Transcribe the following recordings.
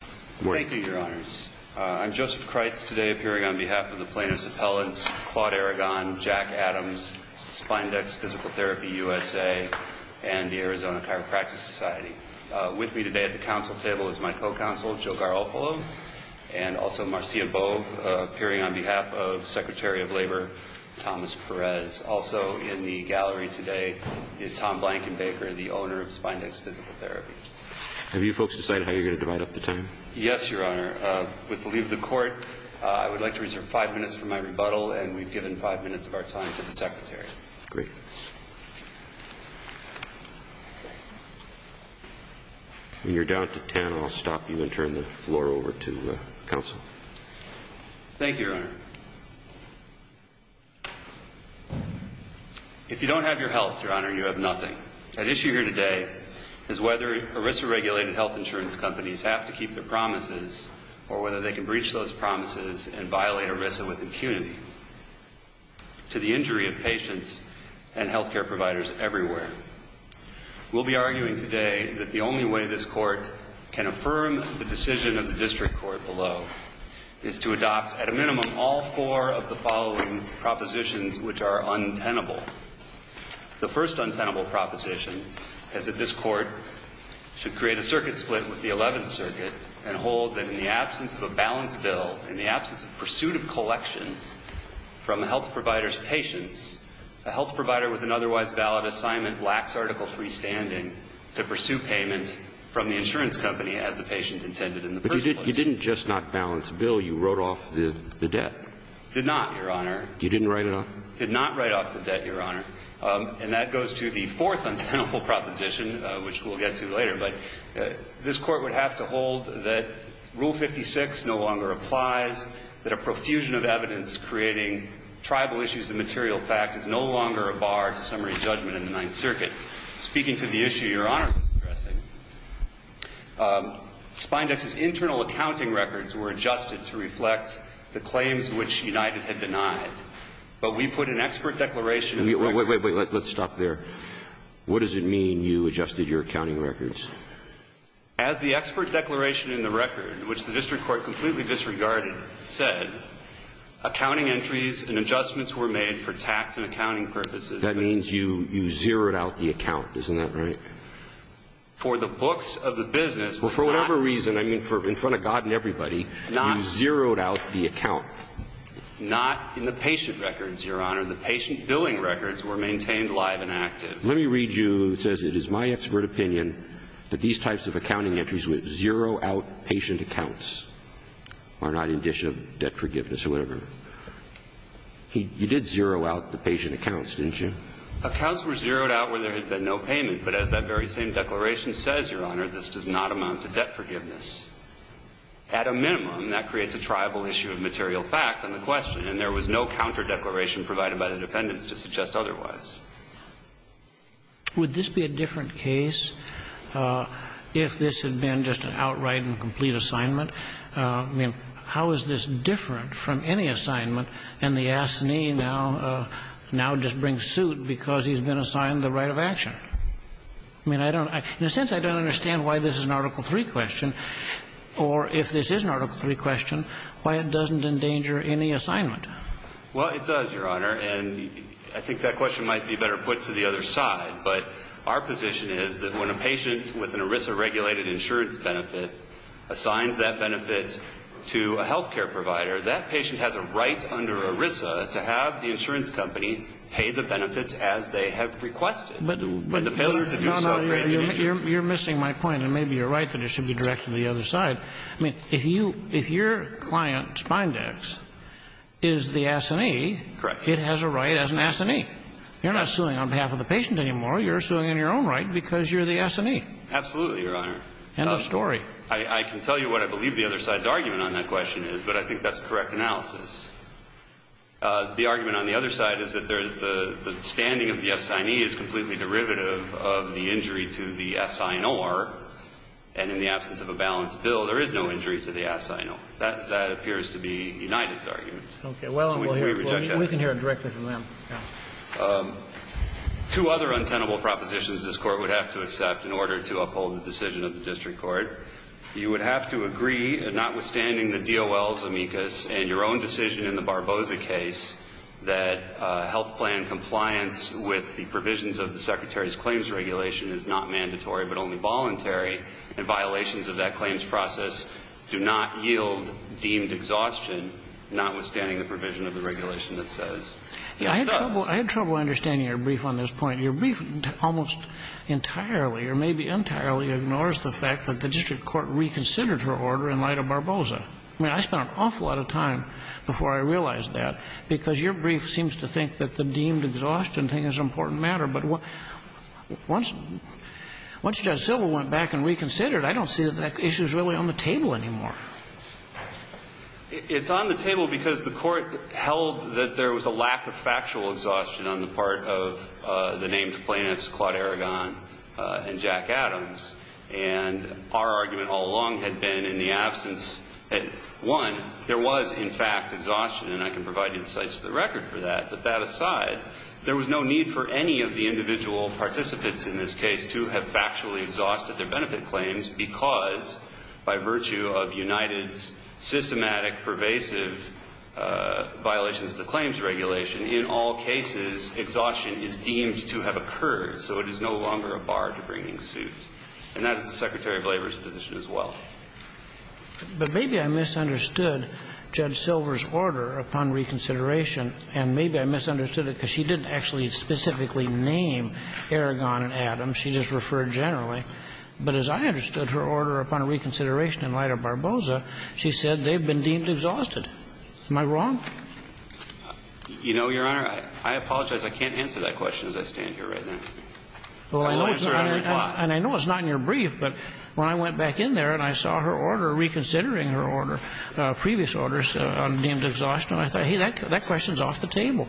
Thank you, your honors. I'm Joseph Kreitz, today appearing on behalf of the plaintiffs' appellants, Claude Aragon, Jack Adams, Spindex Physical Therapy USA and the Arizona Chiropractic Society. With me today at the council table is my co-counsel, Joe Garofalo, and also Marcia Boe, appearing on behalf of Secretary of Labor, Thomas Perez. Also in the gallery today is Tom Blankenbaker, the owner of Spindex Physical Therapy. Have you folks decided how you're going to divide up the Yes, your honor. With the leave of the court, I would like to reserve five minutes for my rebuttal, and we've given five minutes of our time to the secretary. Great. When you're down to ten, I'll stop you and turn the floor over to counsel. Thank you, your honor. If you don't have your health, your honor, you have nothing. At issue here today is whether Arisa-regulated health insurance companies have to keep their promises, or whether they can breach those promises and violate Arisa with impunity to the injury of patients and health care providers everywhere. We'll be arguing today that the only way this court can affirm the decision of the district court below is to adopt at a minimum all four of the following propositions which are untenable. The first untenable proposition is that this court should create a circuit split with the Eleventh Circuit and hold that in the absence of a balanced bill, in the absence of pursuit of collection from a health provider's patients, a health provider with an otherwise valid assignment lacks Article III standing to pursue payment from the insurance company as the patient intended in the first place. But you didn't just not balance the bill. You wrote off the debt. Did not, your honor. You didn't write it off? Did not write off the debt, your honor. And that goes to the fourth untenable proposition, which we'll get to later. But this court would have to hold that Rule 56 no longer applies, that a profusion of evidence creating tribal issues of material fact is no longer a bar to summary judgment in the Ninth Circuit. Speaking to the issue your honor was addressing, Spindex's internal accounting records were adjusted to reflect the claims which United had denied. But we put an expert declaration in the record. Wait, wait, wait. Let's stop there. What does it mean you adjusted your accounting records? As the expert declaration in the record, which the district court completely disregarded, said, accounting entries and adjustments were made for tax and accounting purposes. That means you zeroed out the account. Isn't that right? For the books of the business. Well, for whatever reason, I mean, in front of God and everybody, you zeroed out the account. Not in the patient records, your honor. The patient billing records were maintained live and active. Let me read you, it says, it is my expert opinion that these types of accounting entries would zero out patient accounts, are not indicia of debt forgiveness or whatever. You did zero out the patient accounts, didn't you? Accounts were zeroed out where there had been no payment. But as that very same declaration says, your honor, this does not amount to debt forgiveness. At a minimum, that creates a tribal issue of material fact in the question. And there was no counter declaration provided by the defendants to suggest otherwise. Would this be a different case if this had been just an outright and complete assignment? I mean, how is this different from any assignment? And the assinee now, now just brings suit because he's been assigned the right of action. I mean, I don't, in a sense, I don't understand why this is an Article III question, or if this is an Article III question, why it doesn't endanger any assignment? Well, it does, your honor. And I think that question might be better put to the other side. But our position is that when a patient with an ERISA-regulated insurance benefit assigns that benefit to a health care provider, that patient has a right under ERISA to have the insurance company pay the benefits as they have requested. But the failure to do so creates an issue. You're missing my point. And maybe you're right that it should be directed to the other side. I mean, if you, if your client, Spindax, is the assinee, it has a right as an assinee. You're not suing on behalf of the patient anymore. You're suing in your own right because you're the assinee. Absolutely, your honor. End of story. I can tell you what I believe the other side's argument on that question is, but I think that's a correct analysis. The argument on the other side is that there's the, the standing of the assignee is completely derivative of the injury to the assignor. And in the absence of a balanced bill, there is no injury to the assignee. That, that appears to be United's argument. Okay. Well, we can hear it directly from them. Two other untenable propositions this Court would have to accept in order to uphold the decision of the district court. You would have to agree, notwithstanding the DOL's amicus and your own decision in the Barboza case, that health plan compliance with the provisions of the secretary's claims regulation is not mandatory, but only voluntary, and violations of that claims process do not yield deemed exhaustion, notwithstanding the provision of the regulation that says it does. I had trouble understanding your brief on this point. Your brief almost entirely or maybe entirely ignores the fact that the district court reconsidered her order in light of Barboza. I mean, I spent an awful lot of time before I realized that, because your brief seems to think that the deemed exhaustion thing is an important matter. But once, once Judge Silber went back and reconsidered, I don't see that that issue is really on the table anymore. It's on the table because the Court held that there was a lack of factual exhaustion on the part of the named plaintiffs, Claude Aragon and Jack Adams. And our argument all along had been, in the absence, one, there was, in fact, exhaustion. And I can provide you the sites of the record for that. But that aside, there was no need for any of the individual participants in this case to have factually exhausted their benefit claims because, by virtue of United's systematic, pervasive violations of the claims regulation, in all cases, exhaustion is deemed to have occurred, so it is no longer a bar to bringing suit. And that is the Secretary of Labor's position as well. But maybe I misunderstood Judge Silber's order upon reconsideration, and maybe I misunderstood it because she didn't actually specifically name Aragon and Adams, she just referred generally. But as I understood her order upon reconsideration in light of Barboza, she said they've been deemed exhausted. Am I wrong? You know, Your Honor, I apologize. I can't answer that question as I stand here right now. I will answer it in reply. And I know it's not in your brief, but when I went back in there and I saw her order reconsidering her order, previous orders deemed exhausted, I thought, hey, that question is off the table.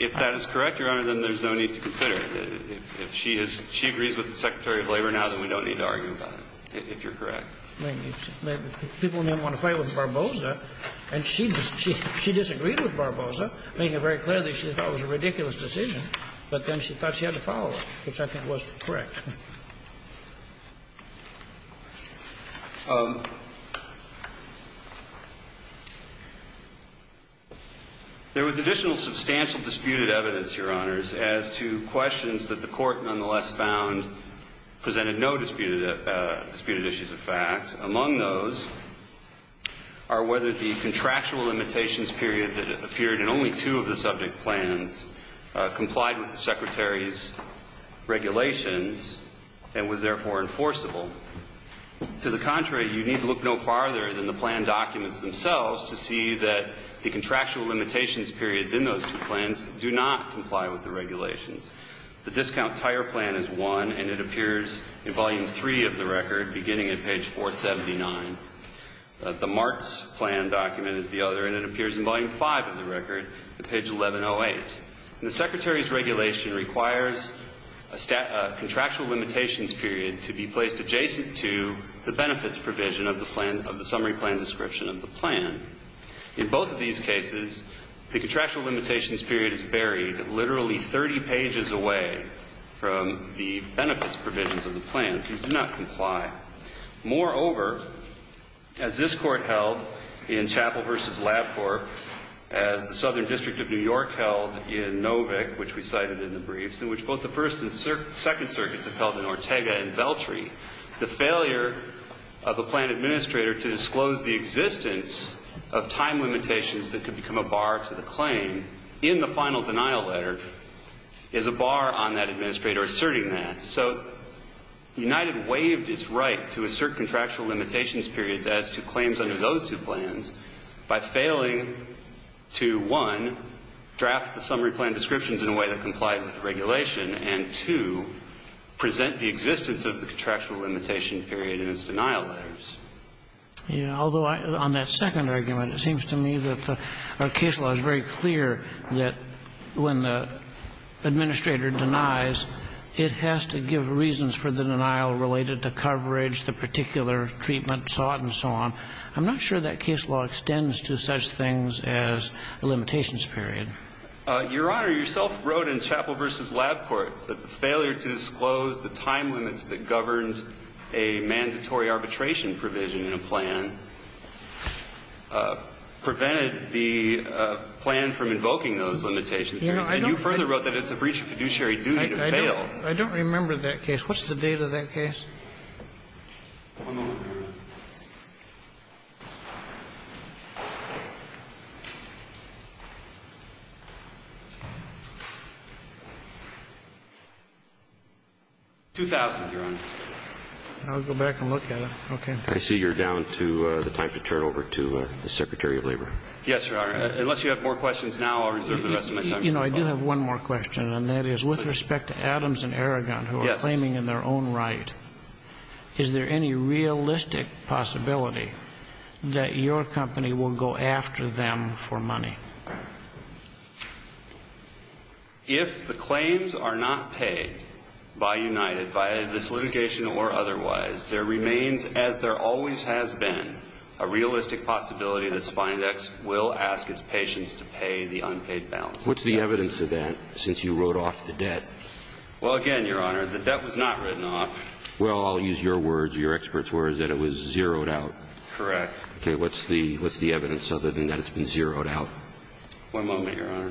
If that is correct, Your Honor, then there's no need to consider it. If she is – if she agrees with the Secretary of Labor now, then we don't need to argue about it, if you're correct. People may want to fight with Barboza, and she disagreed with Barboza, making it very clear that she thought it was a ridiculous decision, but then she thought she had to correct. There was additional substantial disputed evidence, Your Honors, as to questions that the Court nonetheless found presented no disputed issues of fact. Among those are whether the contractual limitations period that appeared in only two of the regulations and was, therefore, enforceable. To the contrary, you need to look no farther than the plan documents themselves to see that the contractual limitations periods in those two plans do not comply with the regulations. The discount tire plan is one, and it appears in volume three of the record, beginning at page 479. The Martz plan document is the other, and it appears in volume five of the record, at page 1108. The Secretary's regulation requires a contractual limitations period to be placed adjacent to the benefits provision of the summary plan description of the plan. In both of these cases, the contractual limitations period is buried literally 30 pages away from the benefits provisions of the plans. These do not comply. Moreover, as this Court held in Chappell v. Labcorp, as the Southern District of New York held in Novick, which we cited in the briefs, in which both the First and Second Circuits have held in Ortega and Veltri, the failure of a plan administrator to disclose the existence of time limitations that could become a bar to the claim in the final denial letter is a bar on that administrator asserting that. So United waived its right to assert contractual limitations periods as to claims under those two plans by failing to, one, draft the summary plan descriptions in a way that complied with the regulation, and, two, present the existence of the contractual limitation period in its denial letters. Although on that second argument, it seems to me that our case law is very clear that when the administrator denies, it has to give reasons for the denial related to coverage, the particular treatment sought, and so on. I'm not sure that case law extends to such things as a limitations period. Your Honor, you yourself wrote in Chappell v. Labcorp that the failure to disclose the time limits that governed a mandatory arbitration provision in a plan prevented the plan from invoking those limitations. And you further wrote that it's a breach of fiduciary duty to fail. I don't remember that case. What's the date of that case? I'll go back and look at it, okay. I see you're down to the time to turn it over to the Secretary of Labor. Yes, Your Honor. Unless you have more questions now, I'll reserve the rest of my time. You know, I do have one more question, and that is with respect to Adams and Aragon who are claiming in their own right. Is there any realistic possibility that your company will go after them for money? If the claims are not paid by United, by this litigation or otherwise, there remains, as there always has been, a realistic possibility that Spindex will ask its patients to pay the unpaid balance. What's the evidence of that since you wrote off the debt? Well, again, Your Honor, the debt was not written off. Well, I'll use your words, your experts' words, that it was zeroed out. Correct. Okay. What's the evidence other than that it's been zeroed out? One moment, Your Honor.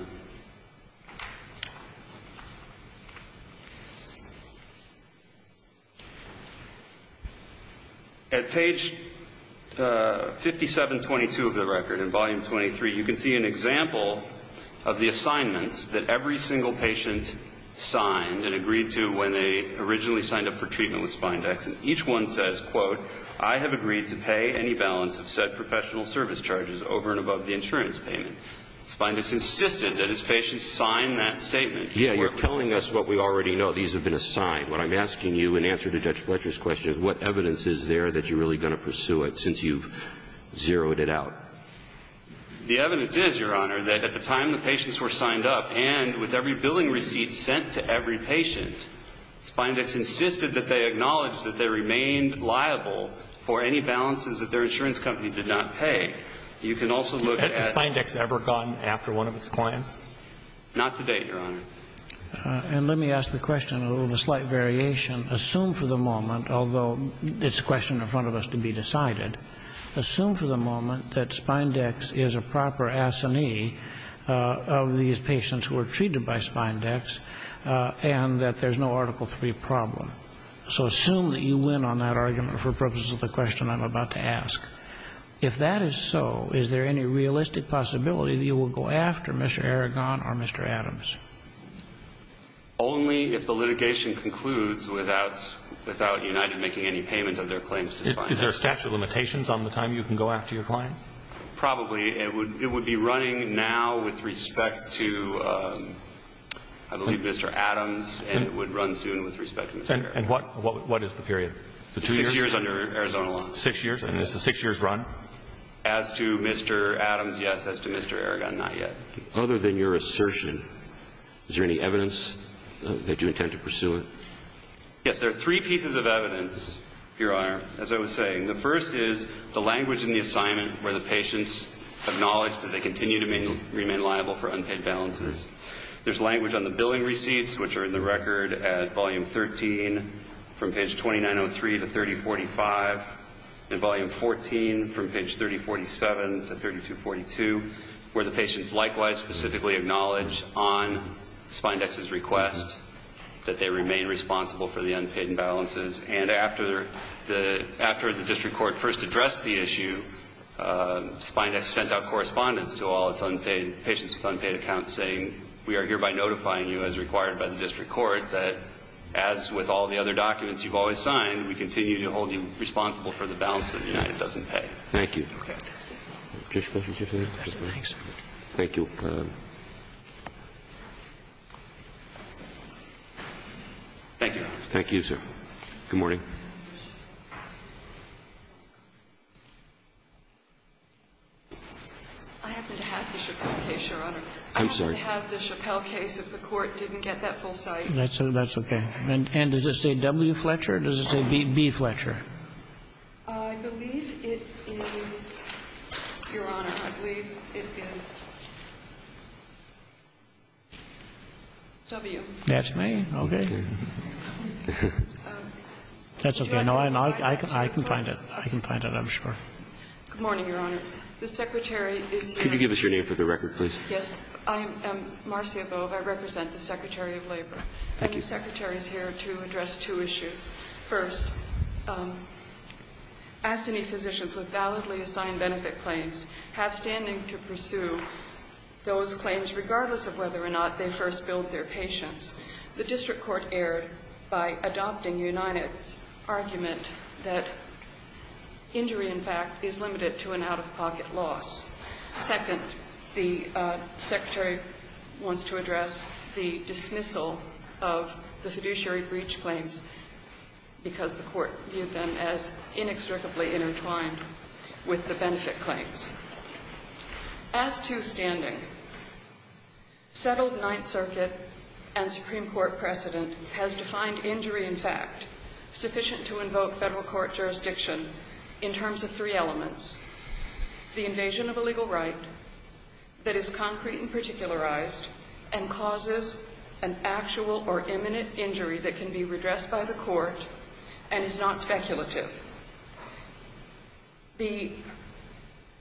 At page 5722 of the record in volume 23, you can see an example of the assignments that every single patient signed and agreed to when they originally signed up for treatment with Spindex. And each one says, quote, I have agreed to pay any balance of said professional service charges over and above the insurance payment. Spindex insisted that his patients sign that statement. Yeah, you're telling us what we already know. These have been assigned. What I'm asking you in answer to Judge Fletcher's question is what evidence is there that you're really going to pursue it since you've zeroed it out? The evidence is, Your Honor, that at the time the patients were signed up and with every billing receipt sent to every patient, Spindex insisted that they acknowledge that they remained liable for any balances that their insurance company did not pay. You can also look at the Spindex ever gone after one of its clients? Not to date, Your Honor. And let me ask the question of a slight variation. Assume for the moment, although it's a question in front of us to be decided, assume for the moment that Spindex is a proper assignee of these patients who are treated by Spindex and that there's no Article III problem. So assume that you win on that argument for purposes of the question I'm about to ask. If that is so, is there any realistic possibility that you will go after Mr. Aragon or Mr. Adams? Only if the litigation concludes without United making any payment of their claims to Spindex. Is there a statute of limitations on the time you can go after your client? Probably. It would be running now with respect to, I believe, Mr. Adams, and it would run soon with respect to Mr. Aragon. And what is the period? Six years under Arizona law. Six years? And is the six years run? As to Mr. Adams, yes. As to Mr. Aragon, not yet. Other than your assertion, is there any evidence that you intend to pursue it? Yes, there are three pieces of evidence, Your Honor, as I was saying. The first is the language in the assignment where the patients acknowledge that they continue to remain liable for unpaid balances. There's language on the billing receipts, which are in the record at volume 13 from page 2903 to 3045, and volume 14 from page 3047 to 3242, where the patients likewise specifically acknowledge on Spindex's request that they remain responsible for the unpaid imbalances. And after the district court first addressed the issue, Spindex sent out correspondence to all its unpaid patients with unpaid accounts, saying, we are hereby notifying you as required by the district court that, as with all the other documents you've always signed, we continue to hold you responsible for the balance that the United doesn't pay. Thank you. Okay. Thank you. Thank you. Thank you, sir. Good morning. I happen to have the Chappell case, Your Honor. I'm sorry. I happen to have the Chappell case, if the court didn't get that full cite. That's okay. And does it say W. Fletcher, or does it say B. Fletcher? I believe it is, Your Honor, I believe it is W. That's me? Okay. That's okay. No, I can find it. I can find it, I'm sure. Good morning, Your Honors. The Secretary is here. Could you give us your name for the record, please? Yes. I am Marcia Bove. I represent the Secretary of Labor. Thank you. The Secretary is here to address two issues. First, ASCENI physicians with validly assigned benefit claims have standing to pursue those claims regardless of whether or not they first billed their patients. The district court erred by adopting United's argument that injury, in fact, is limited to an out-of-pocket loss. Second, the Secretary wants to address the dismissal of the fiduciary breach claims because the court viewed them as inextricably intertwined with the benefit claims. As to standing, settled Ninth Circuit and Supreme Court precedent has defined injury, in fact, sufficient to invoke federal court jurisdiction in terms of three elements. The invasion of a legal right that is concrete and particularized and causes an actual or imminent injury that can be redressed by the court and is not speculative. The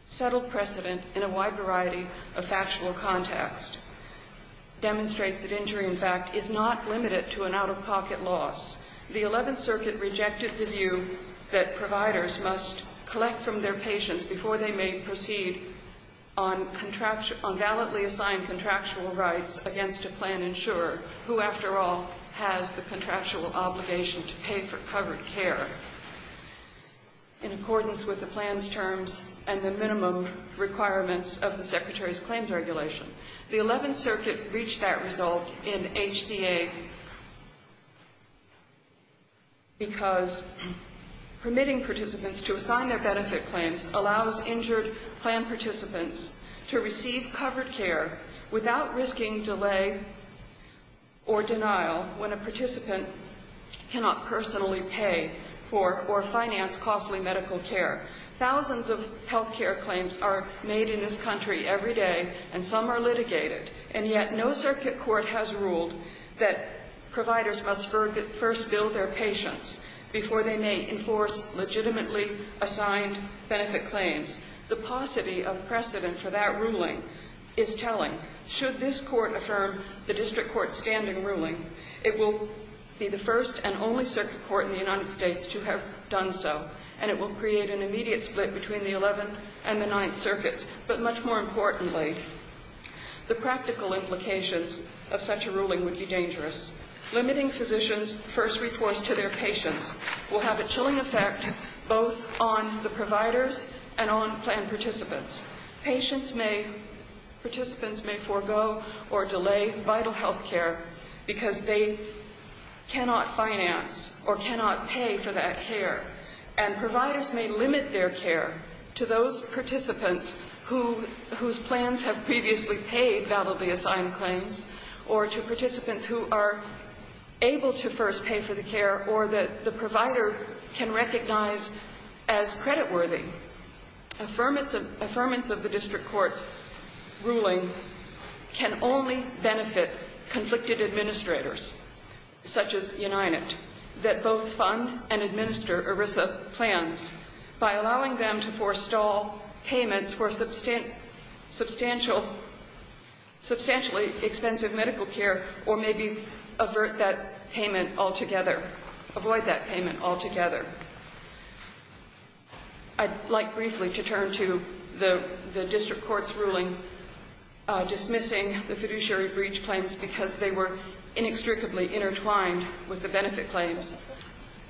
settled precedent in a wide variety of factual context demonstrates that injury, in fact, is not limited to an out-of-pocket loss. The Eleventh Circuit rejected the view that providers must collect from their patients before they may proceed on contractual – on validly assigned contractual rights against a plan insurer who, after all, has the contractual obligation to pay for covered care. In accordance with the plan's terms and the minimum requirements of the Secretary's claims regulation, the Eleventh Circuit reached that result in HCA because permitting participants to assign their benefit claims allows injured plan participants to receive covered care without risking delay or denial when a participant cannot personally pay for covered care. Or finance costly medical care. Thousands of health care claims are made in this country every day, and some are litigated, and yet no circuit court has ruled that providers must first bill their patients before they may enforce legitimately assigned benefit claims. The paucity of precedent for that ruling is telling. Should this court affirm the district court's standing ruling, it will be the first and only circuit court in the United States to have done so, and it will create an immediate split between the Eleventh and the Ninth Circuits. But much more importantly, the practical implications of such a ruling would be dangerous. Limiting physicians' first reforce to their patients will have a chilling effect both on the providers and on plan participants. Participants may forego or delay vital health care because they cannot finance or cannot pay for that care. And providers may limit their care to those participants whose plans have previously paid validly assigned claims, or to participants who are able to first pay for the care, or that the provider can recognize as creditworthy. Affirmance of the district court's ruling can only benefit conflicted administrators, such as United, that both fund and administer ERISA plans by allowing them to forestall payments for substantially expensive medical care, or maybe avert that payment altogether, avoid that payment altogether. I'd like briefly to turn to the district court's ruling dismissing the fiduciary breach claims because they were inextricably intertwined with the benefit claims.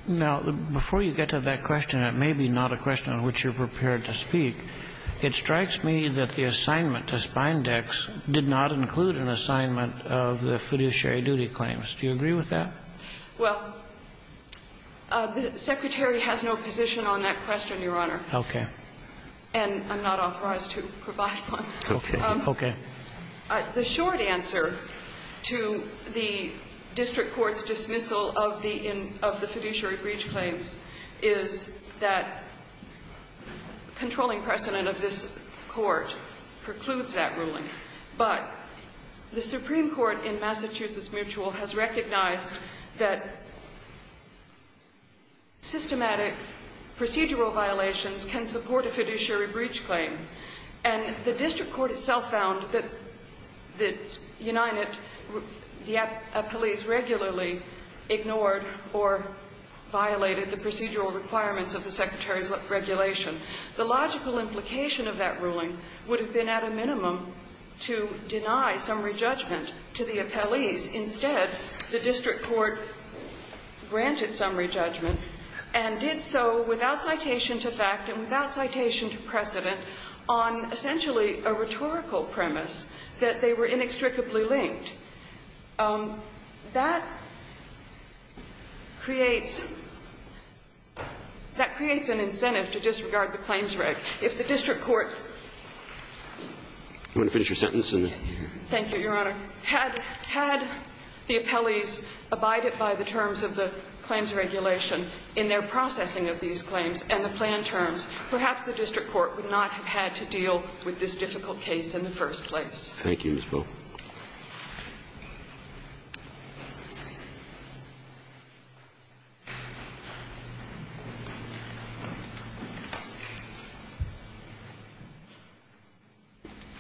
Now, before you get to that question, it may be not a question on which you're prepared to speak. It strikes me that the assignment to Spindex did not include an assignment of the fiduciary duty claims. Do you agree with that? Well, the Secretary has no position on that question, Your Honor. Okay. And I'm not authorized to provide one. Okay. Okay. The short answer to the district court's dismissal of the fiduciary breach claims is that controlling precedent of this Court precludes that ruling. But the Supreme Court in Massachusetts Mutual has recognized that systematic procedural violations can support a fiduciary breach claim. And the district court itself found that United, the police regularly ignored or violated the procedural requirements of the Secretary's regulation. The logical implication of that ruling would have been at a minimum to deny summary judgment to the appellees. Instead, the district court granted summary judgment and did so without citation to fact and without citation to precedent on essentially a rhetorical premise that they were inextricably linked. That creates an incentive to disregard the claims reg. If the district court had the appellees abided by the terms of the claims regulation in their processing of these claims and the planned terms, perhaps the district court would not have had to deal with this difficult case in the first place. Thank you, Ms. Bell.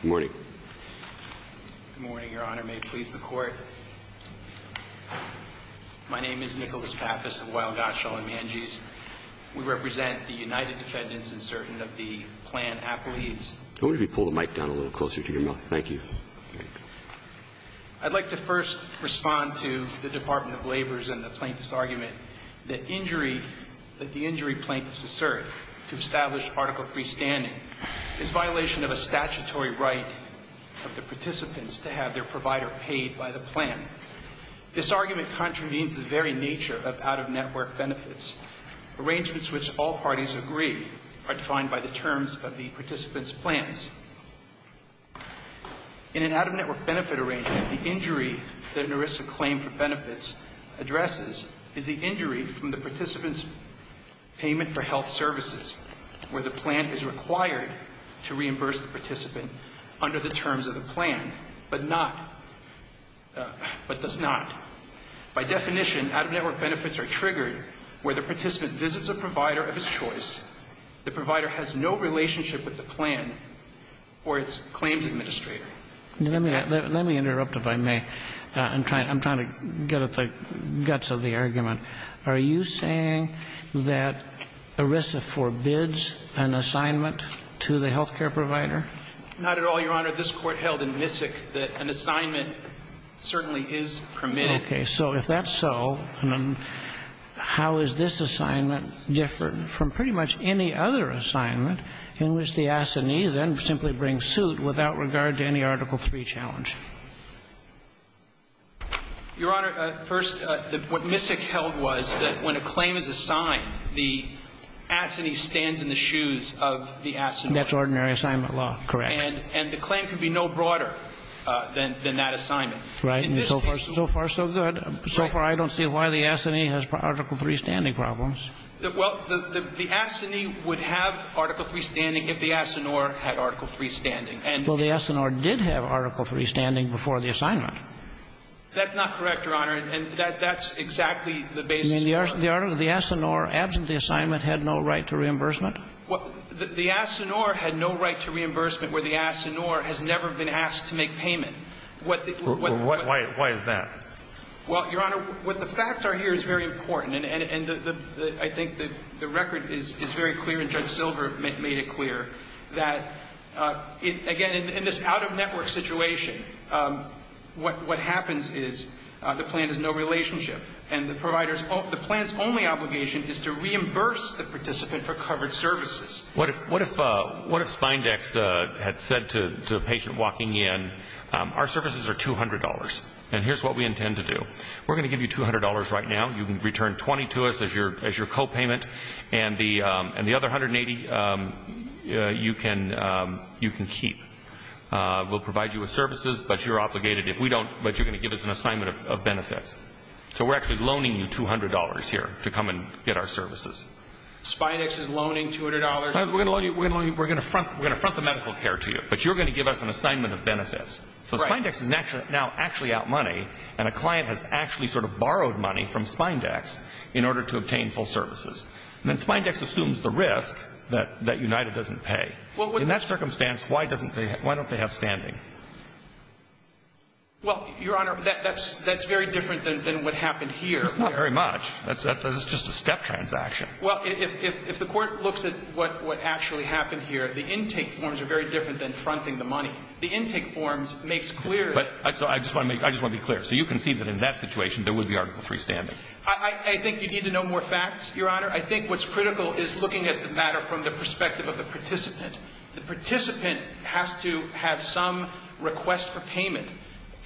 Good morning. Good morning, Your Honor. May it please the Court. My name is Nicholas Pappas of Weill, Gottschall & Mangese. We represent the United Defendants and Certainty of the Planned Appellees. I wonder if you could pull the mic down a little closer to your mouth. Thank you. I'd like to first respond to the Department of Labor's and the plaintiff's argument that injury, that the injury plaintiffs assert to establish Article III standing is violation of a statutory right of the participants to have their provider paid by the plan. This argument contravenes the very nature of out-of-network benefits, arrangements which all parties agree are defined by the terms of the participants' plans. In an out-of-network benefit arrangement, the injury that an arrest of claim for benefits addresses is the injury from the participant's payment for health services, where the plan is required to reimburse the participant under the terms of the plan, but not, but does not. By definition, out-of-network benefits are triggered where the participant visits a provider of his choice, the provider has no relationship with the plan, or its claims administrator. Let me interrupt, if I may. I'm trying to get at the guts of the argument. Are you saying that ERISA forbids an assignment to the health care provider? Not at all, Your Honor. This Court held in Missick that an assignment certainly is permitted. Okay. So if that's so, how is this assignment different from pretty much any other assignment in which the assignee then simply brings suit without regard to any Article III challenge? Your Honor, first, what Missick held was that when a claim is assigned, the assignee stands in the shoes of the assignee. That's ordinary assignment law. Correct. And the claim can be no broader than that assignment. Right. So far, so good. So far, I don't see why the assignee has Article III standing problems. Well, the assignee would have Article III standing if the assineur had Article III standing. Well, the assineur did have Article III standing before the assignment. That's not correct, Your Honor, and that's exactly the basis of the argument. You mean the assineur, absent the assignment, had no right to reimbursement? The assineur had no right to reimbursement where the assineur has never been asked to make payment. Why is that? Well, Your Honor, what the facts are here is very important, and I think the record is very clear, and Judge Silver made it clear that, again, in this out-of-network situation, what happens is the plan has no relationship, and the plan's only obligation is to reimburse the participant for covered services. What if Spindex had said to a patient walking in, our services are $200, and here's what we intend to do. We're going to give you $200 right now. You can return $20 to us as your copayment, and the other $180 you can keep. We'll provide you with services, but you're going to give us an assignment of benefits. So we're actually loaning you $200 here to come and get our services. Spindex is loaning $200? We're going to front the medical care to you, but you're going to give us an assignment of benefits. So Spindex is now actually out money, and a client has actually sort of borrowed money from Spindex in order to obtain full services. And then Spindex assumes the risk that United doesn't pay. In that circumstance, why don't they have standing? Well, Your Honor, that's very different than what happened here. It's not very much. It's just a step transaction. Well, if the Court looks at what actually happened here, the intake forms are very different than fronting the money. The intake forms makes clear that. I just want to be clear. So you concede that in that situation, there would be Article III standing? I think you need to know more facts, Your Honor. I think what's critical is looking at the matter from the perspective of the participant. The participant has to have some request for payment,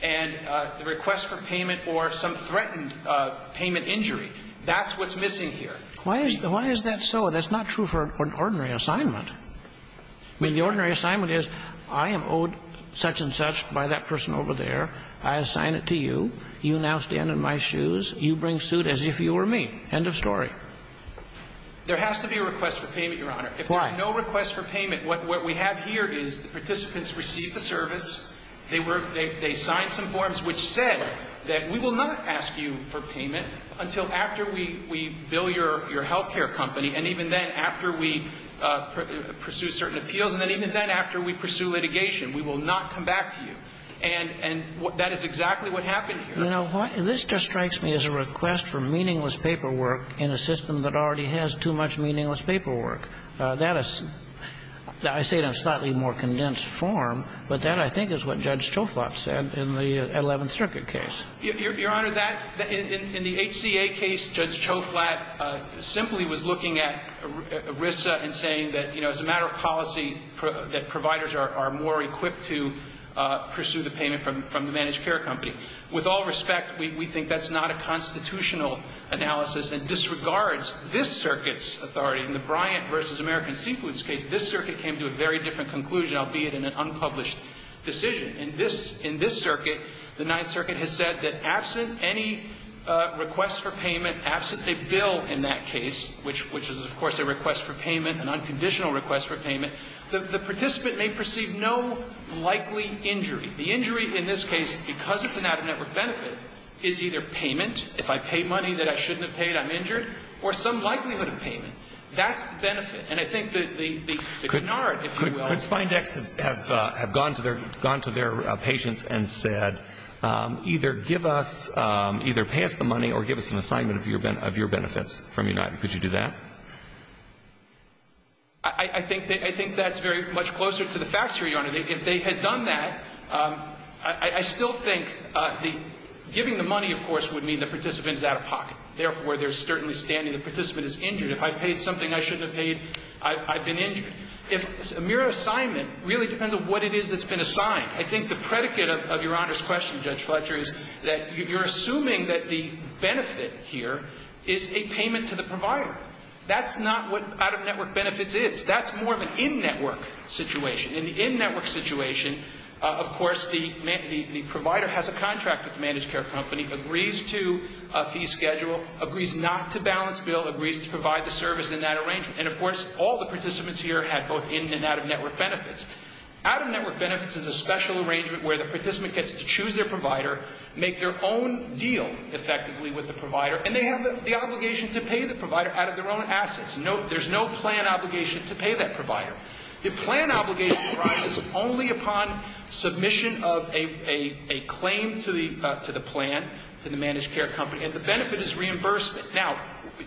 and the request for payment or some threatened payment injury, that's what's missing here. Why is that so? That's not true for an ordinary assignment. I mean, the ordinary assignment is I am owed such and such by that person over there. I assign it to you. You now stand in my shoes. You bring suit as if you were me. End of story. There has to be a request for payment, Your Honor. Why? If there's no request for payment, what we have here is the participants received the service. They signed some forms which said that we will not ask you for payment until after we bill your healthcare company and even then after we pursue certain appeals and even then after we pursue litigation. We will not come back to you. And that is exactly what happened here. You know what? This just strikes me as a request for meaningless paperwork in a system that already has too much meaningless paperwork. That is, I say it in a slightly more condensed form, but that I think is what Judge Choflot said in the Eleventh Circuit case. Your Honor, that, in the HCA case, Judge Choflot simply was looking at ERISA and saying that, you know, as a matter of policy, that providers are more equipped to pursue the payment from the managed care company. With all respect, we think that's not a constitutional analysis and disregards this circuit's authority. In the Bryant v. American Seafoods case, this circuit came to a very different conclusion, albeit in an unpublished decision. In this circuit, the Ninth Circuit has said that absent any request for payment, absent a bill in that case, which is, of course, a request for payment, an unconditional request for payment, the participant may perceive no likely injury. The injury in this case, because it's an out-of-network benefit, is either payment, if I pay money that I shouldn't have paid, I'm injured, or some likelihood of payment. That's the benefit. And I think that the canard, if you will. But Spindex have gone to their patients and said, either give us, either pay us the money or give us an assignment of your benefits from United. Could you do that? I think that's very much closer to the facts here, Your Honor. If they had done that, I still think the giving the money, of course, would mean the participant is out-of-pocket. Therefore, there's certainly standing the participant is injured. If I paid something I shouldn't have paid, I've been injured. If a mere assignment really depends on what it is that's been assigned, I think the predicate of Your Honor's question, Judge Fletcher, is that you're assuming that the benefit here is a payment to the provider. That's not what out-of-network benefits is. That's more of an in-network situation. In the in-network situation, of course, the provider has a contract with the managed care company, agrees to a fee schedule, agrees not to balance bill, agrees to provide the service in that arrangement. And, of course, all the participants here have both in- and out-of-network benefits. Out-of-network benefits is a special arrangement where the participant gets to choose their provider, make their own deal effectively with the provider, and they have the obligation to pay the provider out of their own assets. There's no plan obligation to pay that provider. The plan obligation, Your Honor, is only upon submission of a claim to the plan to the managed care company, and the benefit is reimbursement. Now,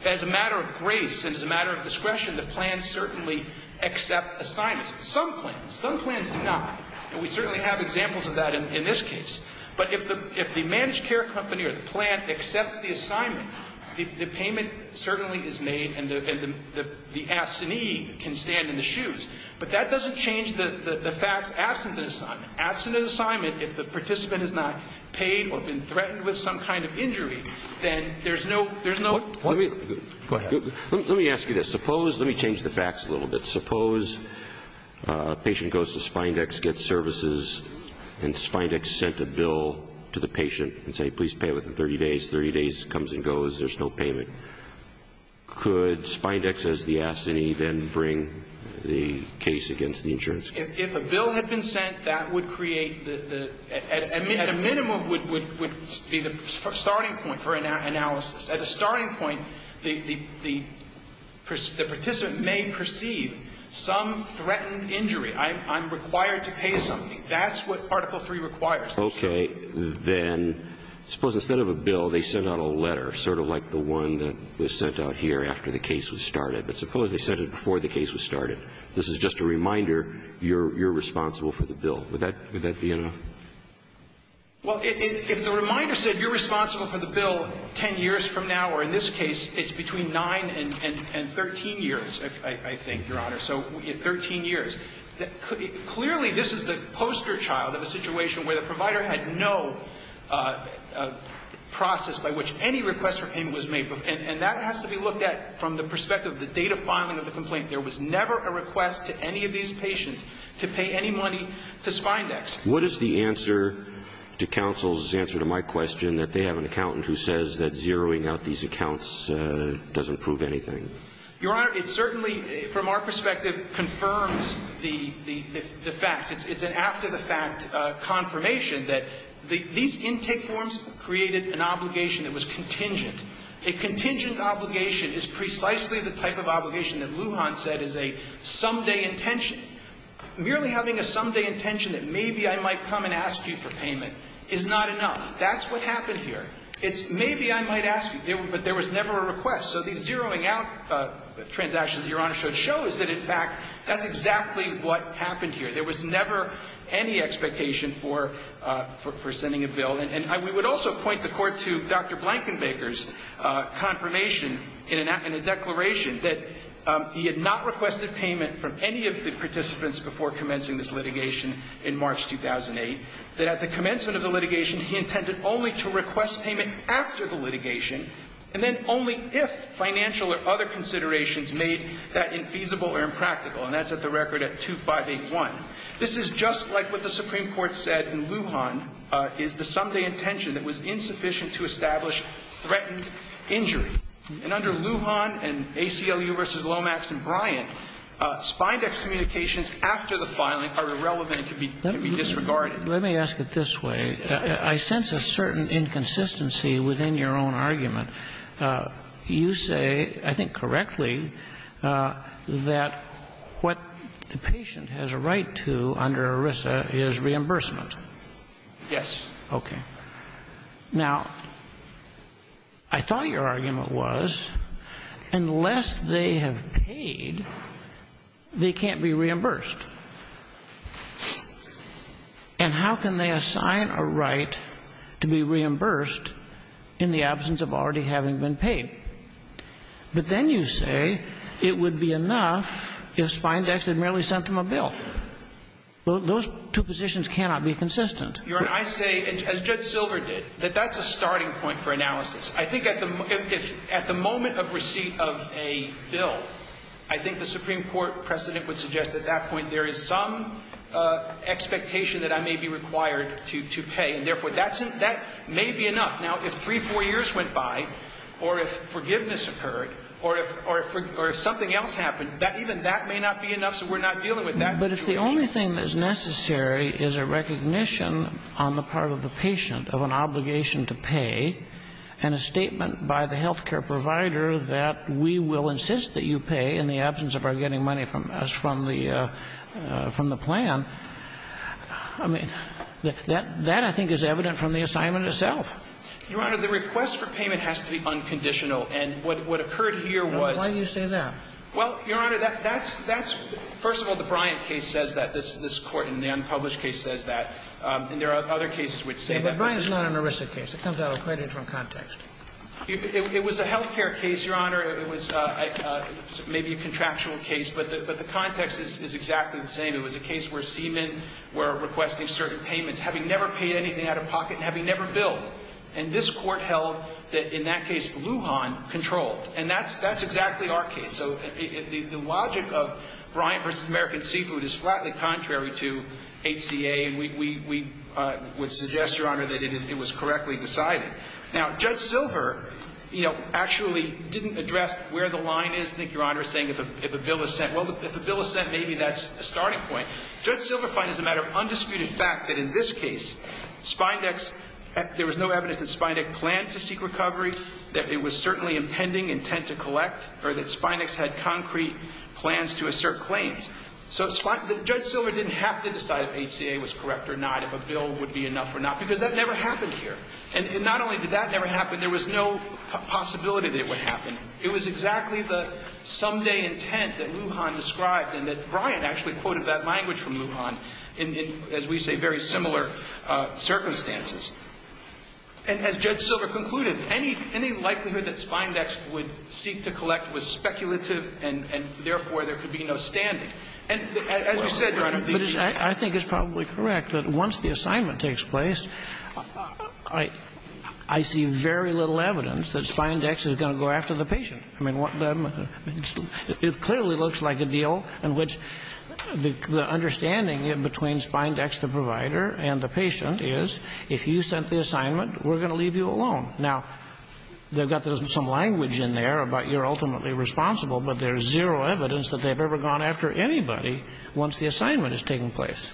as a matter of grace and as a matter of discretion, the plans certainly accept assignments. Some plans, some plans do not. And we certainly have examples of that in this case. But if the managed care company or the plan accepts the assignment, the payment certainly is made and the absentee can stand in the shoes. But that doesn't change the facts absent an assignment. Absent an assignment, if the participant has not paid or been threatened with some kind of injury, then there's no, there's no. Go ahead. Let me ask you this. Suppose, let me change the facts a little bit. Suppose a patient goes to Spindex, gets services, and Spindex sent a bill to the patient and say please pay within 30 days. 30 days comes and goes. There's no payment. Could Spindex as the absentee then bring the case against the insurance company? If a bill had been sent, that would create the, at a minimum would be the starting point for analysis. At a starting point, the participant may perceive some threatened injury. I'm required to pay something. That's what Article III requires. Okay. Then suppose instead of a bill, they sent out a letter, sort of like the one that was sent out here after the case was started. But suppose they sent it before the case was started. This is just a reminder you're responsible for the bill. Would that be enough? Well, if the reminder said you're responsible for the bill 10 years from now, or in this case it's between 9 and 13 years, I think, Your Honor, so 13 years, clearly this is the poster child of a situation where the provider had no process by which any request for payment was made. And that has to be looked at from the perspective of the date of filing of the complaint. There was never a request to any of these patients to pay any money to Spindex. What is the answer to counsel's answer to my question that they have an accountant who says that zeroing out these accounts doesn't prove anything? Your Honor, it certainly, from our perspective, confirms the facts. It's an after-the-fact confirmation that these intake forms created an obligation that was contingent. A contingent obligation is precisely the type of obligation that Lujan said is a someday intention. Merely having a someday intention that maybe I might come and ask you for payment is not enough. That's what happened here. It's maybe I might ask you, but there was never a request. So these zeroing out transactions that Your Honor showed shows that, in fact, that's exactly what happened here. There was never any expectation for sending a bill. And we would also point the Court to Dr. Blankenbaker's confirmation in a declaration that he had not requested payment from any of the participants before commencing this litigation in March 2008, that at the commencement of the litigation he intended only to request payment after the litigation, and then only if financial or other considerations made that infeasible or impractical. And that's at the record at 2581. This is just like what the Supreme Court said in Lujan is the someday intention that was insufficient to establish threatened injury. And under Lujan and ACLU v. Lomax and Bryan, spindex communications after the filing are irrelevant and can be disregarded. Let me ask it this way. You say, I think correctly, that what the patient has a right to under ERISA is reimbursement. Yes. Okay. Now, I thought your argument was unless they have paid, they can't be reimbursed. And how can they assign a right to be reimbursed in the absence of already having been paid? But then you say it would be enough if spindex had merely sent them a bill. Those two positions cannot be consistent. Your Honor, I say, as Judge Silver did, that that's a starting point for analysis. I think at the moment of receipt of a bill, I think the Supreme Court precedent would suggest at that point there is some expectation that I may be required to pay. And therefore, that may be enough. Now, if three, four years went by, or if forgiveness occurred, or if something else happened, even that may not be enough, so we're not dealing with that situation. But if the only thing that is necessary is a recognition on the part of the patient of an obligation to pay and a statement by the health care provider that we will insist that you pay in the absence of our getting money from the plan, I mean, that I think is evident from the assignment itself. Your Honor, the request for payment has to be unconditional. And what occurred here was why do you say that? Well, Your Honor, that's first of all, the Bryant case says that. This Court in the unpublished case says that. And there are other cases which say that. But Bryant is not an ERISA case. It comes out of quite a different context. It was a health care case, Your Honor. It was maybe a contractual case. But the context is exactly the same. It was a case where seamen were requesting certain payments, having never paid anything out of pocket and having never billed. And this Court held that, in that case, Lujan controlled. And that's exactly our case. So the logic of Bryant v. American Seafood is flatly contrary to HCA. And we would suggest, Your Honor, that it was correctly decided. Now, Judge Silver, you know, actually didn't address where the line is, I think, Your Honor, saying if a bill is sent. Well, if a bill is sent, maybe that's a starting point. Judge Silver finds as a matter of undisputed fact that in this case, Spindex – there was no evidence that Spindex planned to seek recovery, that it was certainly impending intent to collect, or that Spindex had concrete plans to assert claims. So Judge Silver didn't have to decide if HCA was correct or not, if a bill would be enough or not, because that never happened here. And not only did that never happen, there was no possibility that it would happen. It was exactly the someday intent that Lujan described and that Bryant actually quoted that language from Lujan in, as we say, very similar circumstances. And as Judge Silver concluded, any likelihood that Spindex would seek to collect was speculative and, therefore, there could be no standing. And as we said, Your Honor, these – I see very little evidence that Spindex is going to go after the patient. I mean, what the – it clearly looks like a deal in which the understanding in between Spindex, the provider, and the patient is, if you sent the assignment, we're going to leave you alone. Now, they've got some language in there about you're ultimately responsible, but there's zero evidence that they've ever gone after anybody once the assignment is taking place.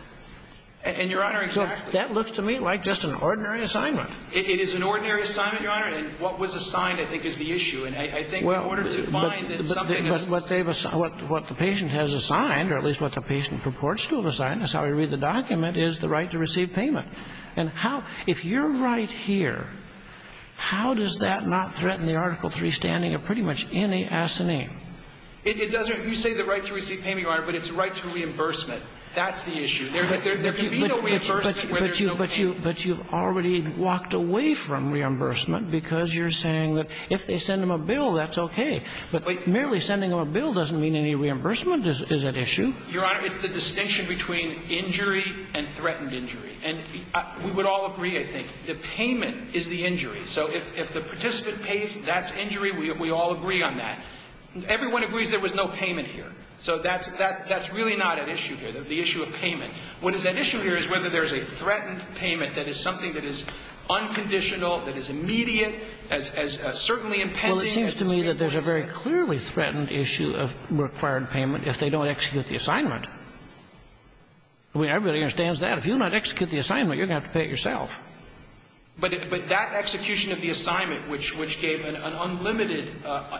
And, Your Honor, exactly. And it looks to me like just an ordinary assignment. It is an ordinary assignment, Your Honor. And what was assigned, I think, is the issue. And I think in order to find that something is – But what they've – what the patient has assigned, or at least what the patient purports to have assigned, that's how we read the document, is the right to receive payment. And how – if you're right here, how does that not threaten the Article III standing of pretty much any assignee? It doesn't. You say the right to receive payment, Your Honor, but it's the right to reimbursement. That's the issue. There can be no reimbursement where there's no payment. But you've already walked away from reimbursement because you're saying that if they send them a bill, that's okay. But merely sending them a bill doesn't mean any reimbursement is at issue. Your Honor, it's the distinction between injury and threatened injury. And we would all agree, I think, the payment is the injury. So if the participant pays, that's injury. We all agree on that. Everyone agrees there was no payment here. So that's really not at issue here, the issue of payment. What is at issue here is whether there's a threatened payment that is something that is unconditional, that is immediate, as certainly impending. Well, it seems to me that there's a very clearly threatened issue of required payment if they don't execute the assignment. I mean, everybody understands that. If you don't execute the assignment, you're going to have to pay it yourself. But that execution of the assignment, which gave an unlimited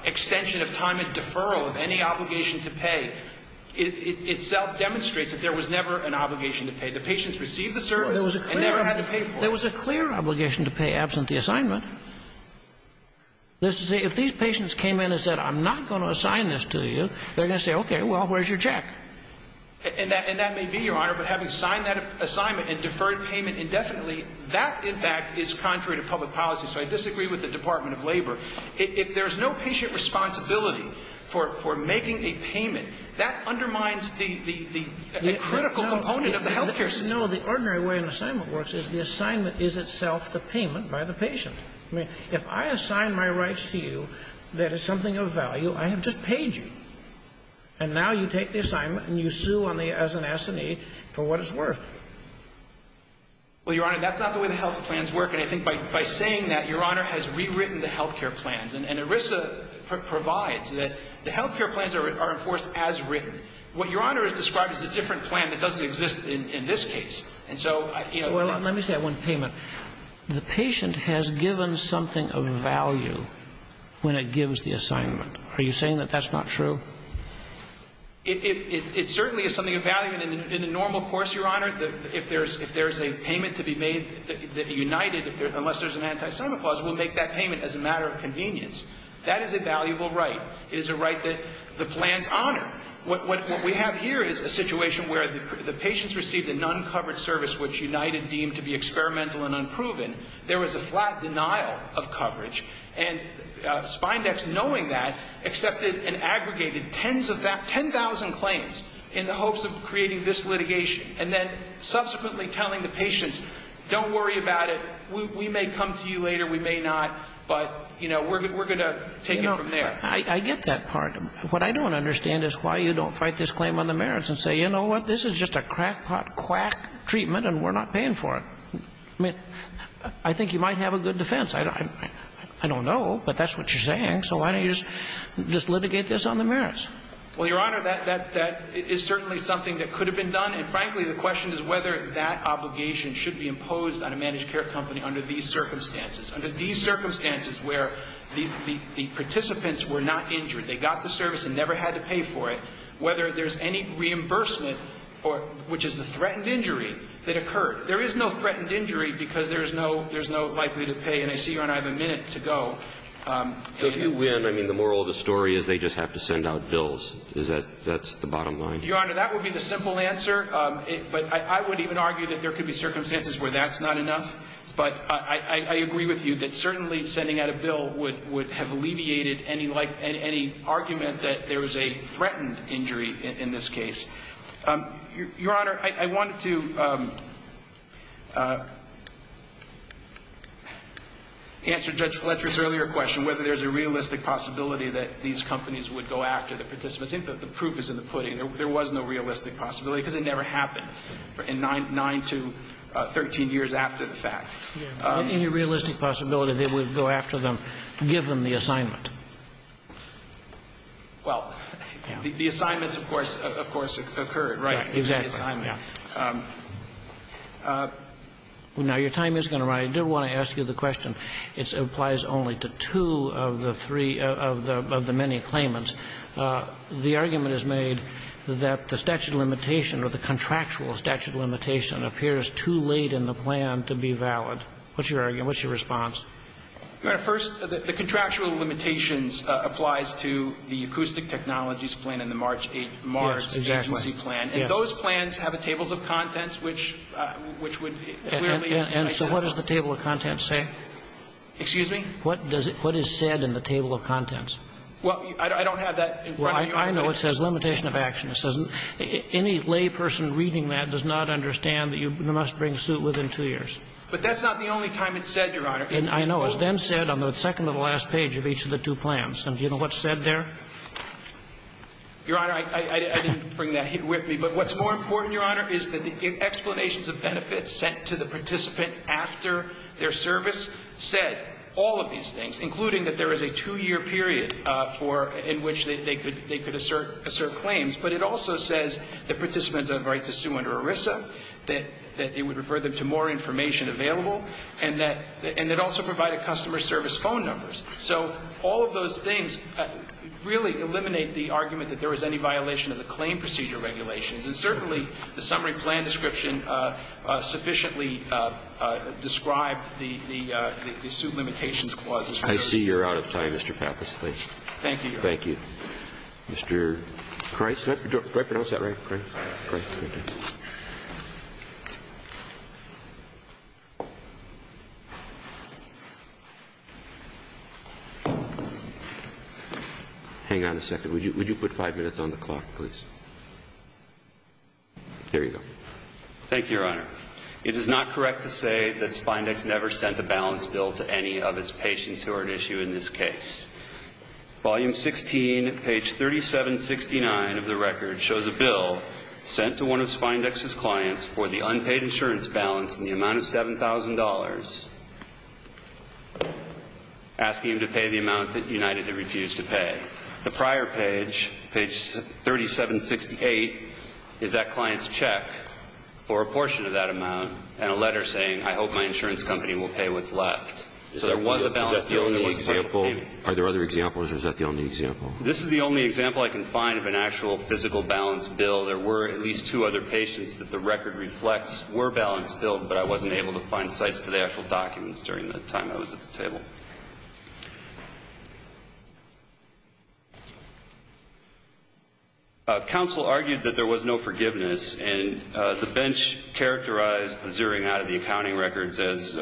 extension of time and obligation to pay, the patients received the service and never had to pay for it. There was a clear obligation to pay absent the assignment. If these patients came in and said, I'm not going to assign this to you, they're going to say, okay, well, where's your check? And that may be, Your Honor, but having signed that assignment and deferred payment indefinitely, that, in fact, is contrary to public policy. So I disagree with the Department of Labor. If there's no patient responsibility for making a payment, that undermines the critical component of the health care system. No, the ordinary way an assignment works is the assignment is itself the payment by the patient. I mean, if I assign my rights to you that is something of value, I have just paid you. And now you take the assignment and you sue as an assignee for what it's worth. Well, Your Honor, that's not the way the health plans work. And I think by saying that, Your Honor, has rewritten the health care plans. And ERISA provides that the health care plans are enforced as written. What Your Honor has described is a different plan that doesn't exist in this case. And so, you know, that's not true. Well, let me say one payment. The patient has given something of value when it gives the assignment. Are you saying that that's not true? It certainly is something of value. In the normal course, Your Honor, if there's a payment to be made that united unless there's an anti-assignment clause, we'll make that payment as a matter of convenience. That is a valuable right. It is a right that the plans honor. What we have here is a situation where the patient's received a non-covered service which United deemed to be experimental and unproven. There was a flat denial of coverage. And Spindex, knowing that, accepted and aggregated tens of that, 10,000 claims in the hopes of creating this litigation. And then subsequently telling the patients, don't worry about it. We may come to you later. We may not. But, you know, we're going to take it from there. I get that part. But what I don't understand is why you don't fight this claim on the merits and say, you know what, this is just a crackpot quack treatment and we're not paying for it. I mean, I think you might have a good defense. I don't know, but that's what you're saying. So why don't you just litigate this on the merits? Well, Your Honor, that is certainly something that could have been done. And, frankly, the question is whether that obligation should be imposed on a managed care company under these circumstances, under these circumstances where the participants were not injured. They got the service and never had to pay for it. Whether there's any reimbursement, which is the threatened injury that occurred. There is no threatened injury because there's no likely to pay. And I see Your Honor, I have a minute to go. If you win, I mean, the moral of the story is they just have to send out bills. Is that the bottom line? Your Honor, that would be the simple answer. But I would even argue that there could be circumstances where that's not enough. But I agree with you that certainly sending out a bill would have alleviated any argument that there was a threatened injury in this case. Your Honor, I wanted to answer Judge Fletcher's earlier question, whether there's a realistic possibility that these companies would go after the participants. The proof is in the pudding. There was no realistic possibility because it never happened in 9 to 13 years after the fact. Any realistic possibility they would go after them, give them the assignment? Well, the assignments, of course, occurred, right? Exactly. Now, your time is going to run. I do want to ask you the question. It applies only to two of the three of the many claimants. The argument is made that the statute of limitation or the contractual statute of limitation appears too late in the plan to be valid. What's your argument? What's your response? Your Honor, first, the contractual limitations applies to the acoustic technologies plan and the March 8th MARGS agency plan. Yes, exactly. Yes. And those plans have a table of contents which would clearly make sense. And so what does the table of contents say? Excuse me? What does it – what is said in the table of contents? Well, I don't have that in front of you. Well, I know it says limitation of action. It says any layperson reading that does not understand that you must bring suit within two years. But that's not the only time it's said, Your Honor. I know. It's then said on the second to the last page of each of the two plans. And do you know what's said there? Your Honor, I didn't bring that with me. But what's more important, Your Honor, is that the explanations of benefits sent to the participant after their service said all of these things, including that there is a two-year period for – in which they could assert claims. But it also says the participant has a right to sue under ERISA, that it would refer them to more information available, and that – and it also provided customer service phone numbers. So all of those things really eliminate the argument that there was any violation of the claim procedure regulations. And certainly the summary plan description sufficiently described the – the suit limitations clauses. I see you're out of time, Mr. Pappas, please. Thank you, Your Honor. Thank you. Mr. Price? Did I pronounce that right? Right. Right. Okay. Hang on a second. Would you – would you put five minutes on the clock, please? There you go. Thank you, Your Honor. It is not correct to say that Spindex never sent a balance bill to any of its patients who are at issue in this case. Volume 16, page 3769 of the record shows a bill sent to one of Spindex's clients for the unpaid insurance balance in the amount of $7,000, asking him to pay the amount that United had refused to pay. The prior page, page 3768, is that client's check for a portion of that amount and a letter saying, I hope my insurance company will pay what's left. So there was a balance bill in the – Is that the only example? Are there other examples, or is that the only example? This is the only example I can find of an actual physical balance bill. There were at least two other patients that the record reflects were balance billed, but I wasn't able to find sites to the actual documents during the time I was at the table. Counsel argued that there was no forgiveness, and the bench characterized the zeroing out of the accounting records as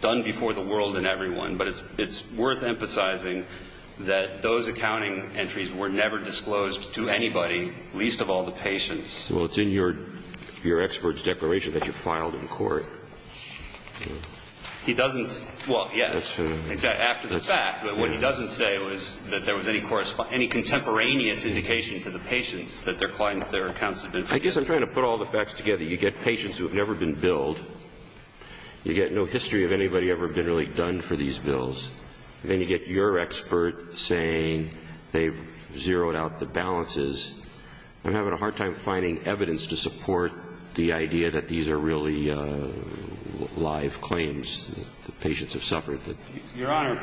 done before the world and everyone. But it's worth emphasizing that those accounting entries were never disclosed to anybody, least of all the patients. Well, it's in your expert's declaration that you filed in court. He doesn't – well, yes. After the fact. But what he doesn't say was that there was any contemporaneous indication to the patients that their accounts had been filled. I guess I'm trying to put all the facts together. You get patients who have never been billed. You get no history of anybody ever been really done for these bills. Then you get your expert saying they've zeroed out the balances. I'm having a hard time finding evidence to support the idea that these are really live claims. The patients have suffered. Your Honor,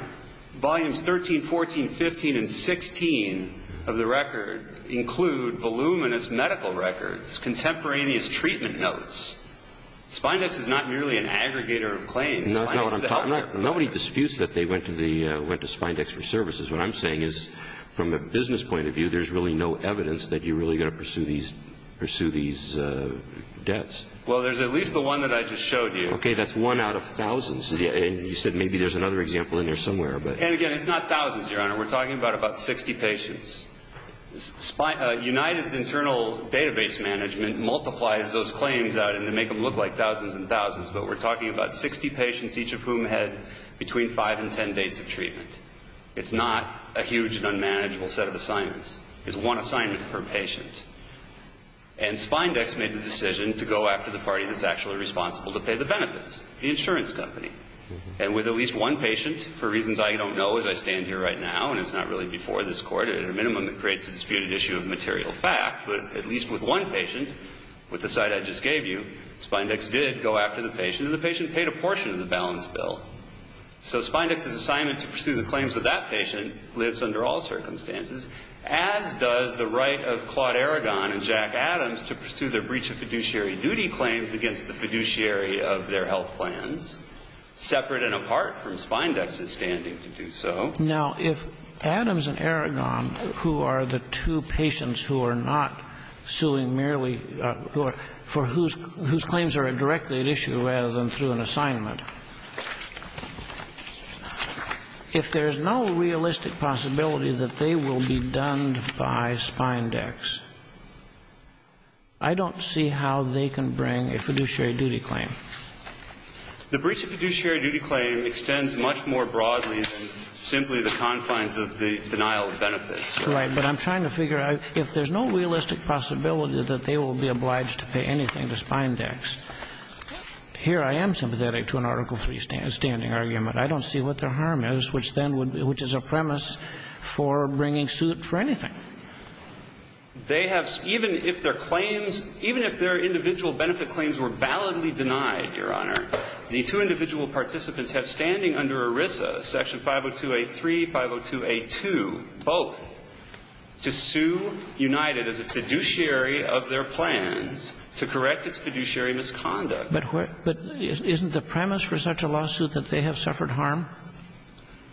volumes 13, 14, 15, and 16 of the record include voluminous medical records, contemporaneous treatment notes. Spindex is not merely an aggregator of claims. Nobody disputes that they went to Spindex for services. What I'm saying is from a business point of view, there's really no evidence that you're really going to pursue these debts. Well, there's at least the one that I just showed you. Okay, that's one out of thousands. And you said maybe there's another example in there somewhere. And again, it's not thousands, Your Honor. We're talking about about 60 patients. United's internal database management multiplies those claims out and they make them look like thousands and thousands, but we're talking about 60 patients, each of whom had between five and ten days of treatment. It's not a huge and unmanageable set of assignments. It's one assignment per patient. And Spindex made the decision to go after the party that's actually responsible to pay the benefits, the insurance company. And with at least one patient, for reasons I don't know as I stand here right now, and it's not really before this Court, at a minimum it creates a disputed issue of material fact, but at least with one patient, with the site I just gave you, Spindex did go after the patient and the patient paid a portion of the balance bill. So Spindex's assignment to pursue the claims of that patient lives under all circumstances, as does the right of Claude Aragon and Jack Adams to pursue their breach of fiduciary duty claims against the fiduciary of their health plans, separate and apart from Spindex's standing to do so. Now, if Adams and Aragon, who are the two patients who are not suing merely for whose claims are directly at issue rather than through an assignment, if there's no realistic possibility that they will be done by Spindex, I don't see how they can bring a fiduciary duty claim. The breach of fiduciary duty claim extends much more broadly than simply the confines of the denial of benefits. Right. But I'm trying to figure out, if there's no realistic possibility that they will be obliged to pay anything to Spindex, here I am sympathetic to an Article III standing argument. I don't see what their harm is, which then would be, which is a premise for bringing suit for anything. They have, even if their claims, even if their individual benefit claims were validly denied, Your Honor, the two individual participants have standing under ERISA, Section 502A3, 502A2, both, to sue United as a fiduciary of their plans to correct its fiduciary misconduct. But isn't the premise for such a lawsuit that they have suffered harm?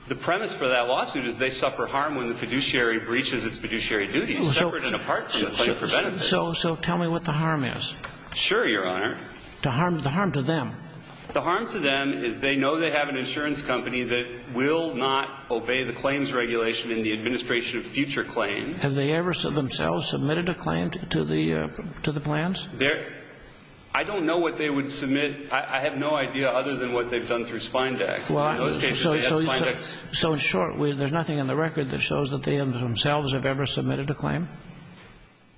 The premise for that lawsuit is they suffer harm when the fiduciary breaches its fiduciary duties, separate and apart from the claim for benefits. So tell me what the harm is. Sure, Your Honor. The harm to them. The harm to them is they know they have an insurance company that will not obey the claims regulation in the administration of future claims. Have they ever themselves submitted a claim to the plans? I don't know what they would submit. I have no idea other than what they've done through Spindex. In those cases, they have Spindex. So in short, there's nothing in the record that shows that they themselves have ever submitted a claim?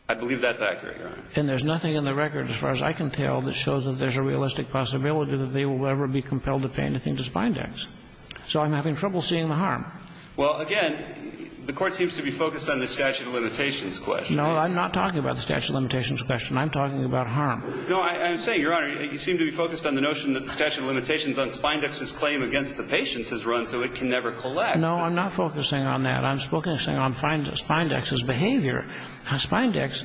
I believe that's accurate, Your Honor. And there's nothing in the record, as far as I can tell, that shows that there's a realistic possibility that they will ever be compelled to pay anything to Spindex. So I'm having trouble seeing the harm. Well, again, the Court seems to be focused on the statute of limitations question. No, I'm not talking about the statute of limitations question. I'm talking about harm. No, I'm saying, Your Honor, you seem to be focused on the notion that the statute of limitations on Spindex's claim against the patients is run so it can never collect. No, I'm not focusing on that. I'm focusing on Spindex's behavior. Now, Spindex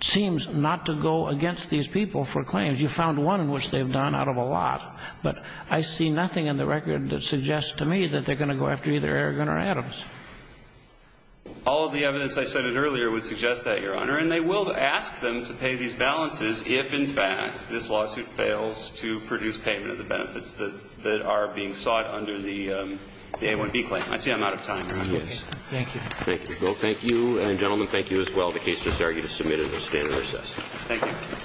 seems not to go against these people for claims. You found one which they've done out of a lot. But I see nothing in the record that suggests to me that they're going to go after either Aragon or Adams. All of the evidence I cited earlier would suggest that, Your Honor. And they will ask them to pay these balances if, in fact, this lawsuit fails to produce payment of the benefits that are being sought under the A1B claim. I see I'm out of time, Your Honor. Thank you. Thank you. Well, thank you. And, gentlemen, thank you as well. The case is argued and submitted. The stand is recessed. Thank you.